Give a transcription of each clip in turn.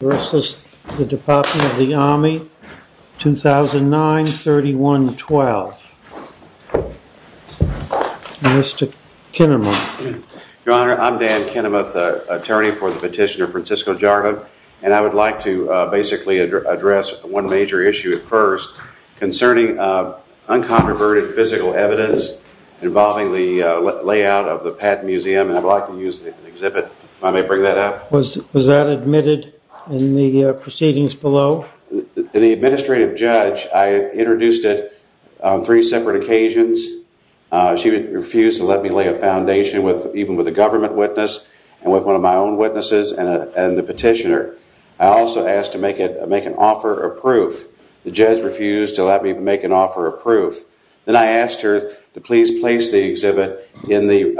2009-31-12. Mr. Kinnemuth. Your Honor, I'm Dan Kinnemuth, attorney for the petitioner Francisco Jardim, and I would like to basically address one major issue at first concerning uncontroverted physical evidence involving the layout of the Patton Museum, and I'd like to use the exhibit, if I may bring that up. Was that admitted in the proceedings below? The administrative judge, I introduced it on three separate occasions. She refused to let me lay a foundation even with a government witness and with one of my own witnesses and the petitioner. I also asked to make an offer of proof. The judge refused to let me make an offer of proof. Then I asked her to please place the exhibit in the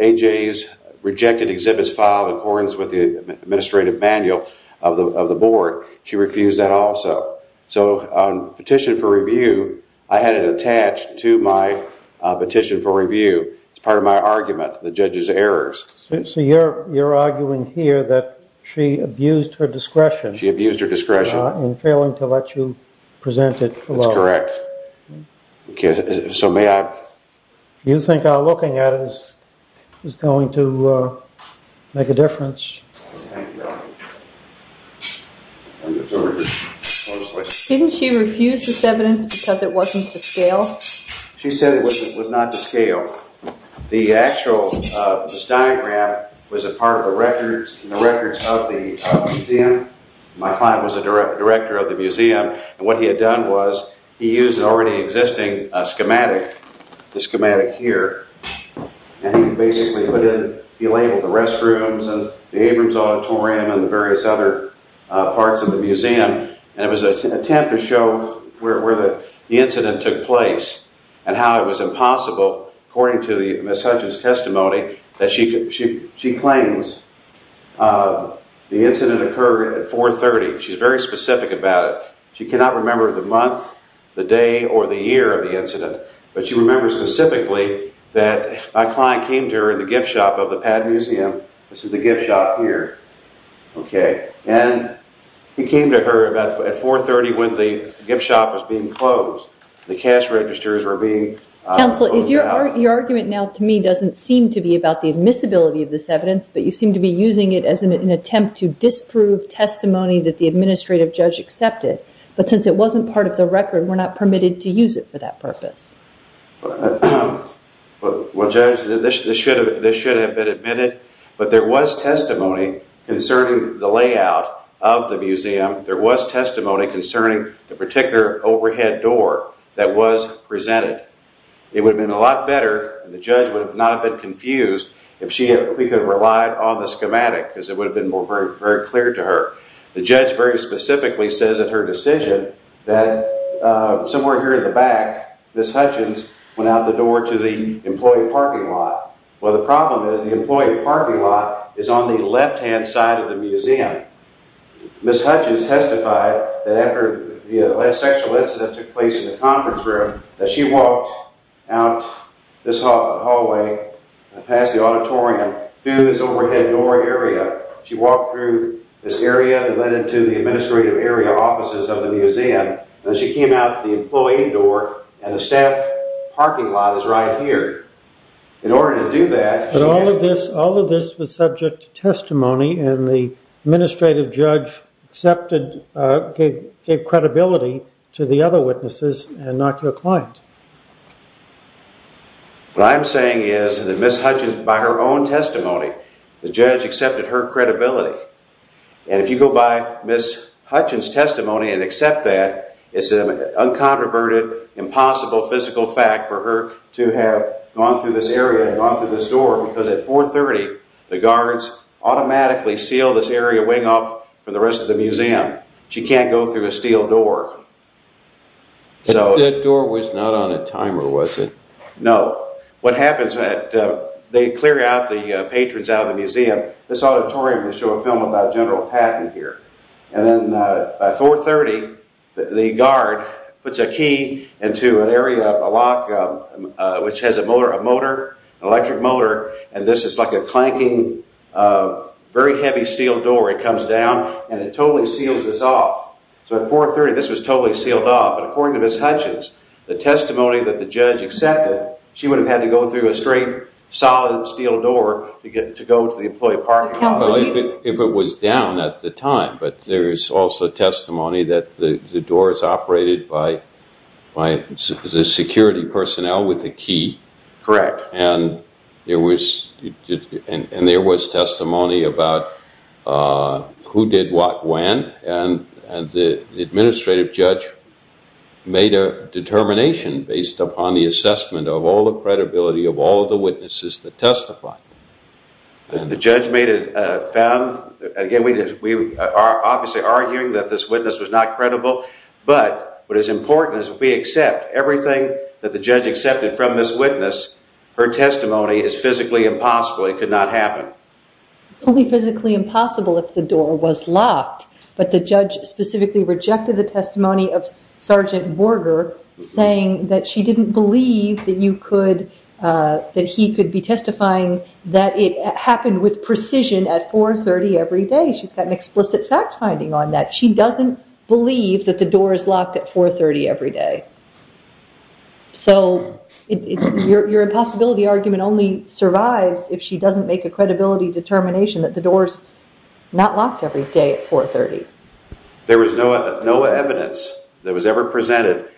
AJ's rejected exhibits file in accordance with the administrative manual of the board. She refused that also. So on petition for review, I had it attached to my petition for review. It's part of my argument, the judge's errors. So you're arguing here that she abused her discretion. She abused her discretion. In failing to let you present it below. That's correct. So may I? You think our looking at it is going to make a difference. Didn't she refuse this evidence because it wasn't to scale? She said it was not to scale. This diagram was a part of the records of the museum. My client was the director of the museum. What he had done was he used an already existing schematic, the schematic here. He labeled the restrooms and the Abrams auditorium and the various other parts of the museum. It was an attempt to show where the incident took place and how it was impossible according to Ms. Hutchins testimony that she claims the incident occurred at 430. She's very specific about it. She cannot remember the month, the day, or the year of the incident. But she remembers specifically that my client came to her in the gift shop of the Pad Museum. This is the gift shop here. And he came to her at 430 when the gift shop was being closed. The cash registers were being... Counsel, your argument now to me doesn't seem to be about the admissibility of this evidence. But you seem to be using it as an attempt to disprove testimony that the administrative judge accepted. But since it wasn't part of the record, we're not permitted to use it for that purpose. Judge, this should have been admitted. But there was testimony concerning the layout of the museum. There was testimony concerning the particular overhead door that was presented. It would have been a lot better, and the judge would not have been confused, if she had relied on the schematic. Because it would have been very clear to her. The judge very specifically says in her decision that somewhere here in the back, Ms. Hutchins went out the door to the employee parking lot. Well, the problem is the employee parking lot is on the left-hand side of the museum. Ms. Hutchins testified that after the sexual incident took place in the conference room, that she walked out this hallway past the auditorium through this overhead door area. She walked through this area and then into the administrative area offices of the museum. Then she came out the employee door, and the staff parking lot is right here. In order to do that... But all of this was subject to testimony, and the administrative judge gave credibility to the other witnesses and not to a client. What I'm saying is that Ms. Hutchins, by her own testimony, the judge accepted her credibility. If you go by Ms. Hutchins' testimony and accept that, it's an uncontroverted, impossible physical fact for her to have gone through this area and gone through this door. Because at 430, the guards automatically seal this area way off from the rest of the museum. She can't go through a steel door. That door was not on a timer, was it? No. What happens is that they clear the patrons out of the museum. This auditorium, they show a film about General Patton here. And then at 430, the guard puts a key into an area, a lock, which has a motor, an electric motor. And this is like a clanking, very heavy steel door. It comes down, and it totally seals this off. So at 430, this was totally sealed off. According to Ms. Hutchins, the testimony that the judge accepted, she would have had to go through a straight, solid steel door to go to the employee parking lot. If it was down at the time. But there is also testimony that the door is operated by the security personnel with a key. Correct. And there was testimony about who did what when. And the administrative judge made a determination based upon the assessment of all the credibility of all the witnesses that testified. The judge made it found. Again, we are obviously arguing that this witness was not credible. But what is important is that we accept everything that the judge accepted from this witness. Her testimony is physically impossible. It could not happen. It's only physically impossible if the door was locked. But the judge specifically rejected the testimony of Sergeant Borger, saying that she didn't believe that he could be testifying. That it happened with precision at 430 every day. She's got an explicit fact finding on that. She doesn't believe that the door is locked at 430 every day. So your impossibility argument only survives if she doesn't make a credibility determination that the door is not locked every day at 430. There was no evidence that was ever presented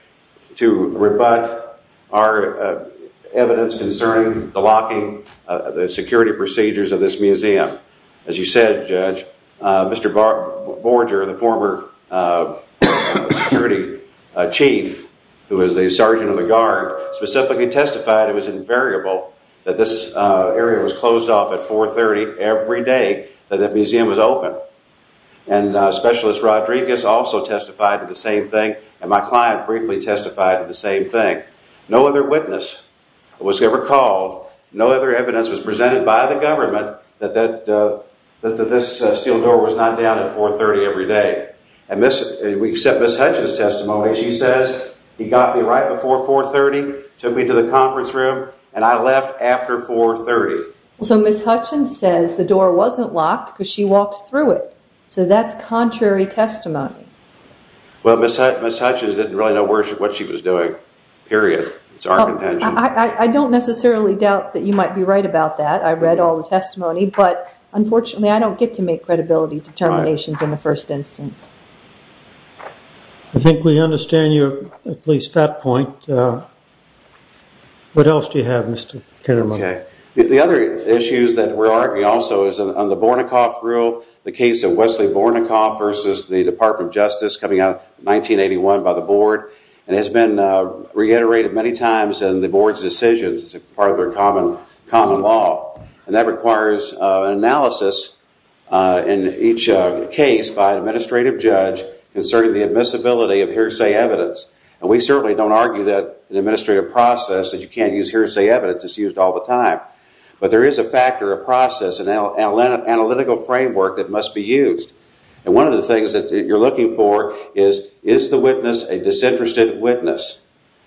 to rebut our evidence concerning the locking, the security procedures of this museum. As you said, Judge, Mr. Borger, the former security chief who was the sergeant of the guard, specifically testified it was invariable that this area was closed off at 430 every day that the museum was open. And Specialist Rodriguez also testified to the same thing. And my client briefly testified to the same thing. No other witness was ever called. No other evidence was presented by the government that this steel door was not down at 430 every day. And we accept Ms. Hutchins' testimony. She says he got me right before 430, took me to the conference room, and I left after 430. So Ms. Hutchins says the door wasn't locked because she walked through it. So that's contrary testimony. Well, Ms. Hutchins didn't really know what she was doing, period. It's our contention. I don't necessarily doubt that you might be right about that. I read all the testimony. But unfortunately, I don't get to make credibility determinations in the first instance. I think we understand you at least at that point. What else do you have, Mr. Kitterman? The other issues that we're arguing also is on the Bornicoff rule, the case of Wesley Bornicoff versus the Department of Justice coming out in 1981 by the board. And it's been reiterated many times in the board's decisions as part of their common law. And that requires an analysis in each case by an administrative judge concerning the admissibility of hearsay evidence. And we certainly don't argue that an administrative process, that you can't use hearsay evidence, it's used all the time. But there is a factor, a process, an analytical framework that must be used. And one of the things that you're looking for is, is the witness a disinterested witness?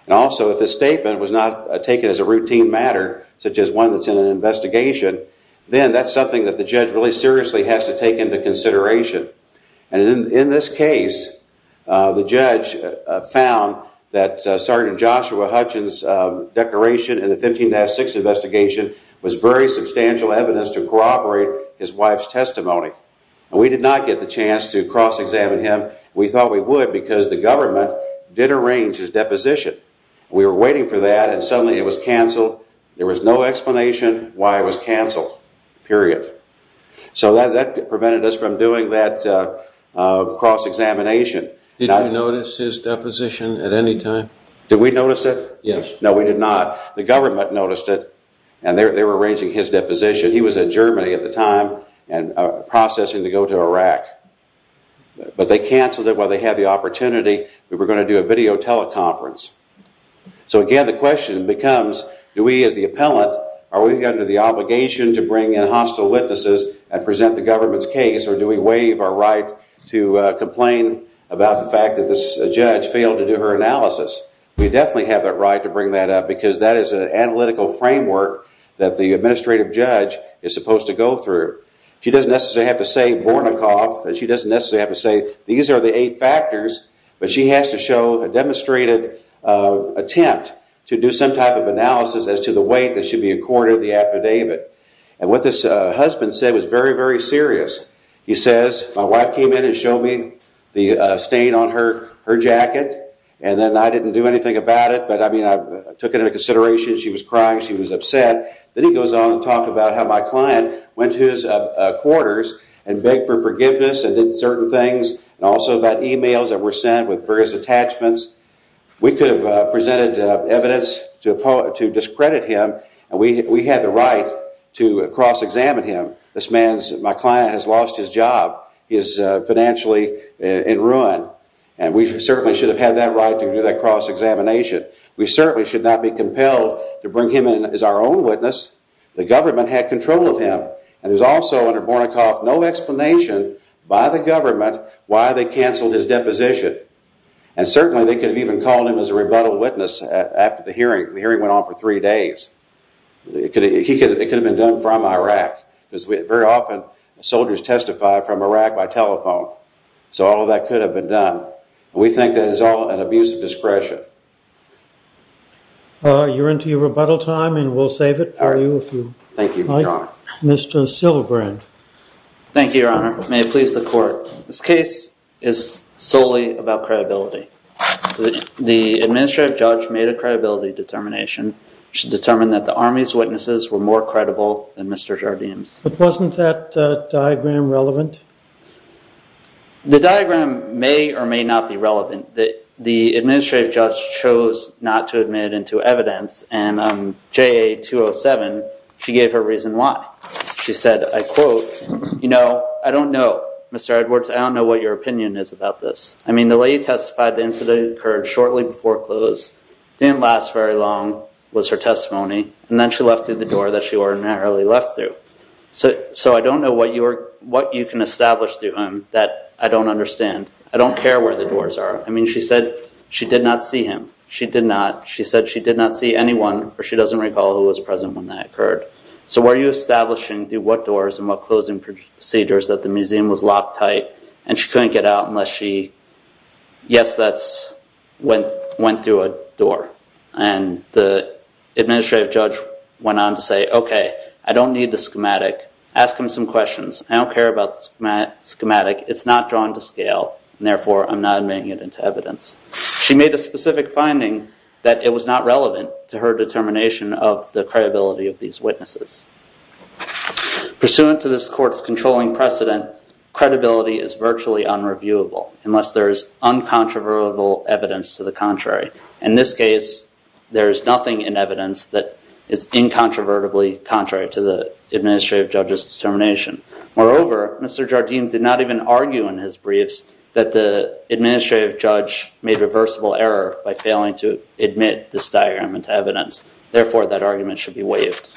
And also, if the statement was not taken as a routine matter, such as one that's in an investigation, then that's something that the judge really seriously has to take into consideration. And in this case, the judge found that Sergeant Joshua Hutchins' declaration in the 15-6 investigation was very substantial evidence to corroborate his wife's testimony. And we did not get the chance to cross-examine him. We thought we would because the government did arrange his deposition. We were waiting for that, and suddenly it was canceled. There was no explanation why it was canceled, period. So that prevented us from doing that cross-examination. Did you notice his deposition at any time? Did we notice it? Yes. No, we did not. The government noticed it, and they were arranging his deposition. He was in Germany at the time, processing to go to Iraq. But they canceled it while they had the opportunity. We were going to do a video teleconference. So again, the question becomes, do we as the appellant, are we under the obligation to bring in hostile witnesses and present the government's case, or do we waive our right to complain about the fact that this judge failed to do her analysis? We definitely have that right to bring that up because that is an analytical framework that the administrative judge is supposed to go through. She doesn't necessarily have to say, these are the eight factors, but she has to show a demonstrated attempt to do some type of analysis as to the weight that should be accorded to the affidavit. And what this husband said was very, very serious. He says, my wife came in and showed me the stain on her jacket, and then I didn't do anything about it, but I mean, I took it into consideration. She was crying. She was upset. Then he goes on to talk about how my client went to his quarters and begged for forgiveness and did certain things, and also about emails that were sent with various attachments. We could have presented evidence to discredit him, and we had the right to cross-examine him. This man, my client, has lost his job. He is financially in ruin, and we certainly should have had that right to do that cross-examination. We certainly should not be compelled to bring him in as our own witness. The government had control of him, and there's also under Bornicoff no explanation by the government why they canceled his deposition. And certainly they could have even called him as a rebuttal witness after the hearing. The hearing went on for three days. It could have been done from Iraq, because very often soldiers testify from Iraq by telephone. So all of that could have been done. We think that is all an abuse of discretion. You're into your rebuttal time, and we'll save it for you if you like. Thank you, Your Honor. Mr. Silbrand. Thank you, Your Honor. May it please the Court. This case is solely about credibility. The administrative judge made a credibility determination. She determined that the Army's witnesses were more credible than Mr. Jardim's. But wasn't that diagram relevant? The diagram may or may not be relevant. The administrative judge chose not to admit into evidence, and J.A. 207, she gave her reason why. She said, I quote, you know, I don't know, Mr. Edwards, I don't know what your opinion is about this. I mean, the lady testified the incident occurred shortly before close, didn't last very long, was her testimony, and then she left through the door that she ordinarily left through. So I don't know what you can establish through him that I don't understand. I don't care where the doors are. I mean, she said she did not see him. She did not. She said she did not see anyone, or she doesn't recall who was present when that occurred. So were you establishing through what doors and what closing procedures that the museum was locked tight and she couldn't get out unless she, yes, that's went through a door. And the administrative judge went on to say, okay, I don't need the schematic. Ask him some questions. I don't care about the schematic. It's not drawn to scale, and therefore I'm not admitting it into evidence. She made a specific finding that it was not relevant to her determination of the credibility of these witnesses. Pursuant to this court's controlling precedent, credibility is virtually unreviewable unless there is uncontroversial evidence to the contrary. In this case, there is nothing in evidence that is incontrovertibly contrary to the administrative judge's determination. Moreover, Mr. Jardim did not even argue in his briefs that the administrative judge made reversible error by failing to admit this diagram into evidence. Therefore, that argument should be waived.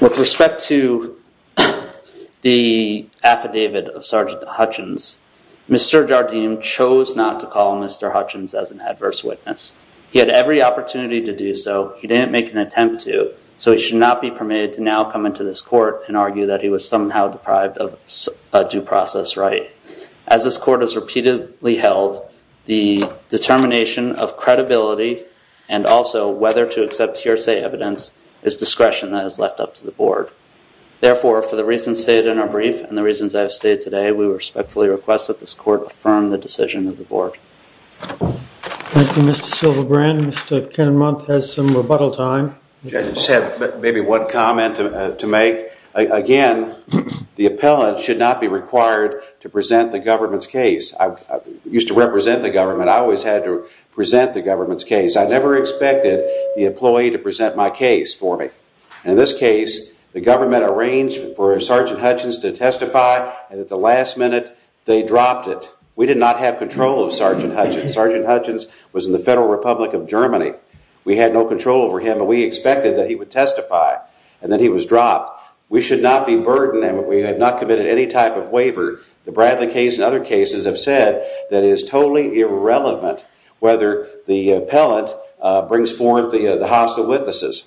With respect to the affidavit of Sergeant Hutchins, Mr. Jardim chose not to call Mr. Hutchins as an adverse witness. He had every opportunity to do so. He didn't make an attempt to. So he should not be permitted to now come into this court and argue that he was somehow deprived of a due process right. As this court has repeatedly held, the determination of credibility and also whether to accept hearsay evidence is discretion that is left up to the board. Therefore, for the reasons stated in our brief and the reasons I have stated today, we respectfully request that this court affirm the decision of the board. Thank you, Mr. Silverbrand. Mr. Kinnemont has some rebuttal time. I just have maybe one comment to make. Again, the appellant should not be required to present the government's case. I used to represent the government. I always had to present the government's case. I never expected the employee to present my case for me. In this case, the government arranged for Sergeant Hutchins to testify and at the last minute they dropped it. We did not have control of Sergeant Hutchins. Sergeant Hutchins was in the Federal Republic of Germany. We had no control over him and we expected that he would testify and then he was dropped. We should not be burdened and we have not committed any type of waiver. The Bradley case and other cases have said that it is totally irrelevant whether the appellant brings forth the hostile witnesses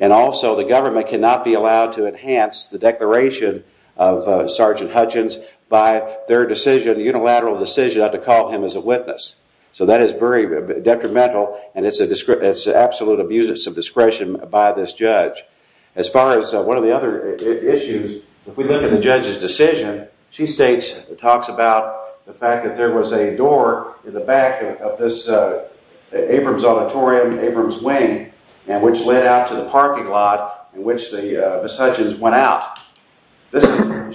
and also the government cannot be allowed to enhance the declaration of Sergeant Hutchins by their decision, unilateral decision, to call him as a witness. So that is very detrimental and it is an absolute abuse of discretion by this judge. As far as one of the other issues, if we look at the judge's decision, she states and talks about the fact that there was a door in the back of this Abrams Auditorium, Abrams Wing, which led out to the parking lot in which Ms. Hutchins went out.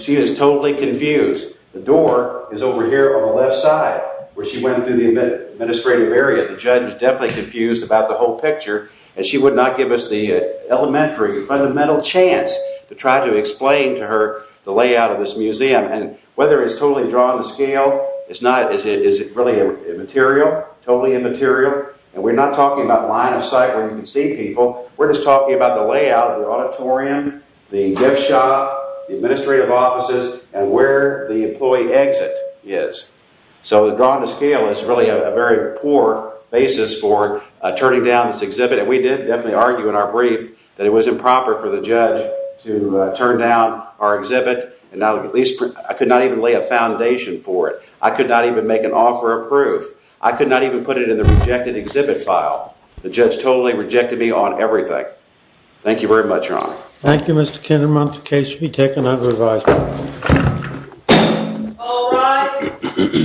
She is totally confused. The door is over here on the left side where she went through the administrative area. The judge is definitely confused about the whole picture and she would not give us the elementary, fundamental chance to try to explain to her the layout of this museum. Whether it is totally drawn to scale, is it really immaterial? Totally immaterial? We are not talking about line of sight where you can see people. We are just talking about the layout of the auditorium, the gift shop, the administrative offices, and where the employee exit is. So drawing to scale is really a very poor basis for turning down this exhibit. We did definitely argue in our brief that it was improper for the judge to turn down our exhibit. I could not even lay a foundation for it. I could not even make an offer of proof. I could not even put it in the rejected exhibit file. The judge totally rejected me on everything. Thank you very much, Your Honor. Thank you, Mr. Kinnerman. The case will be taken under advisement. All rise.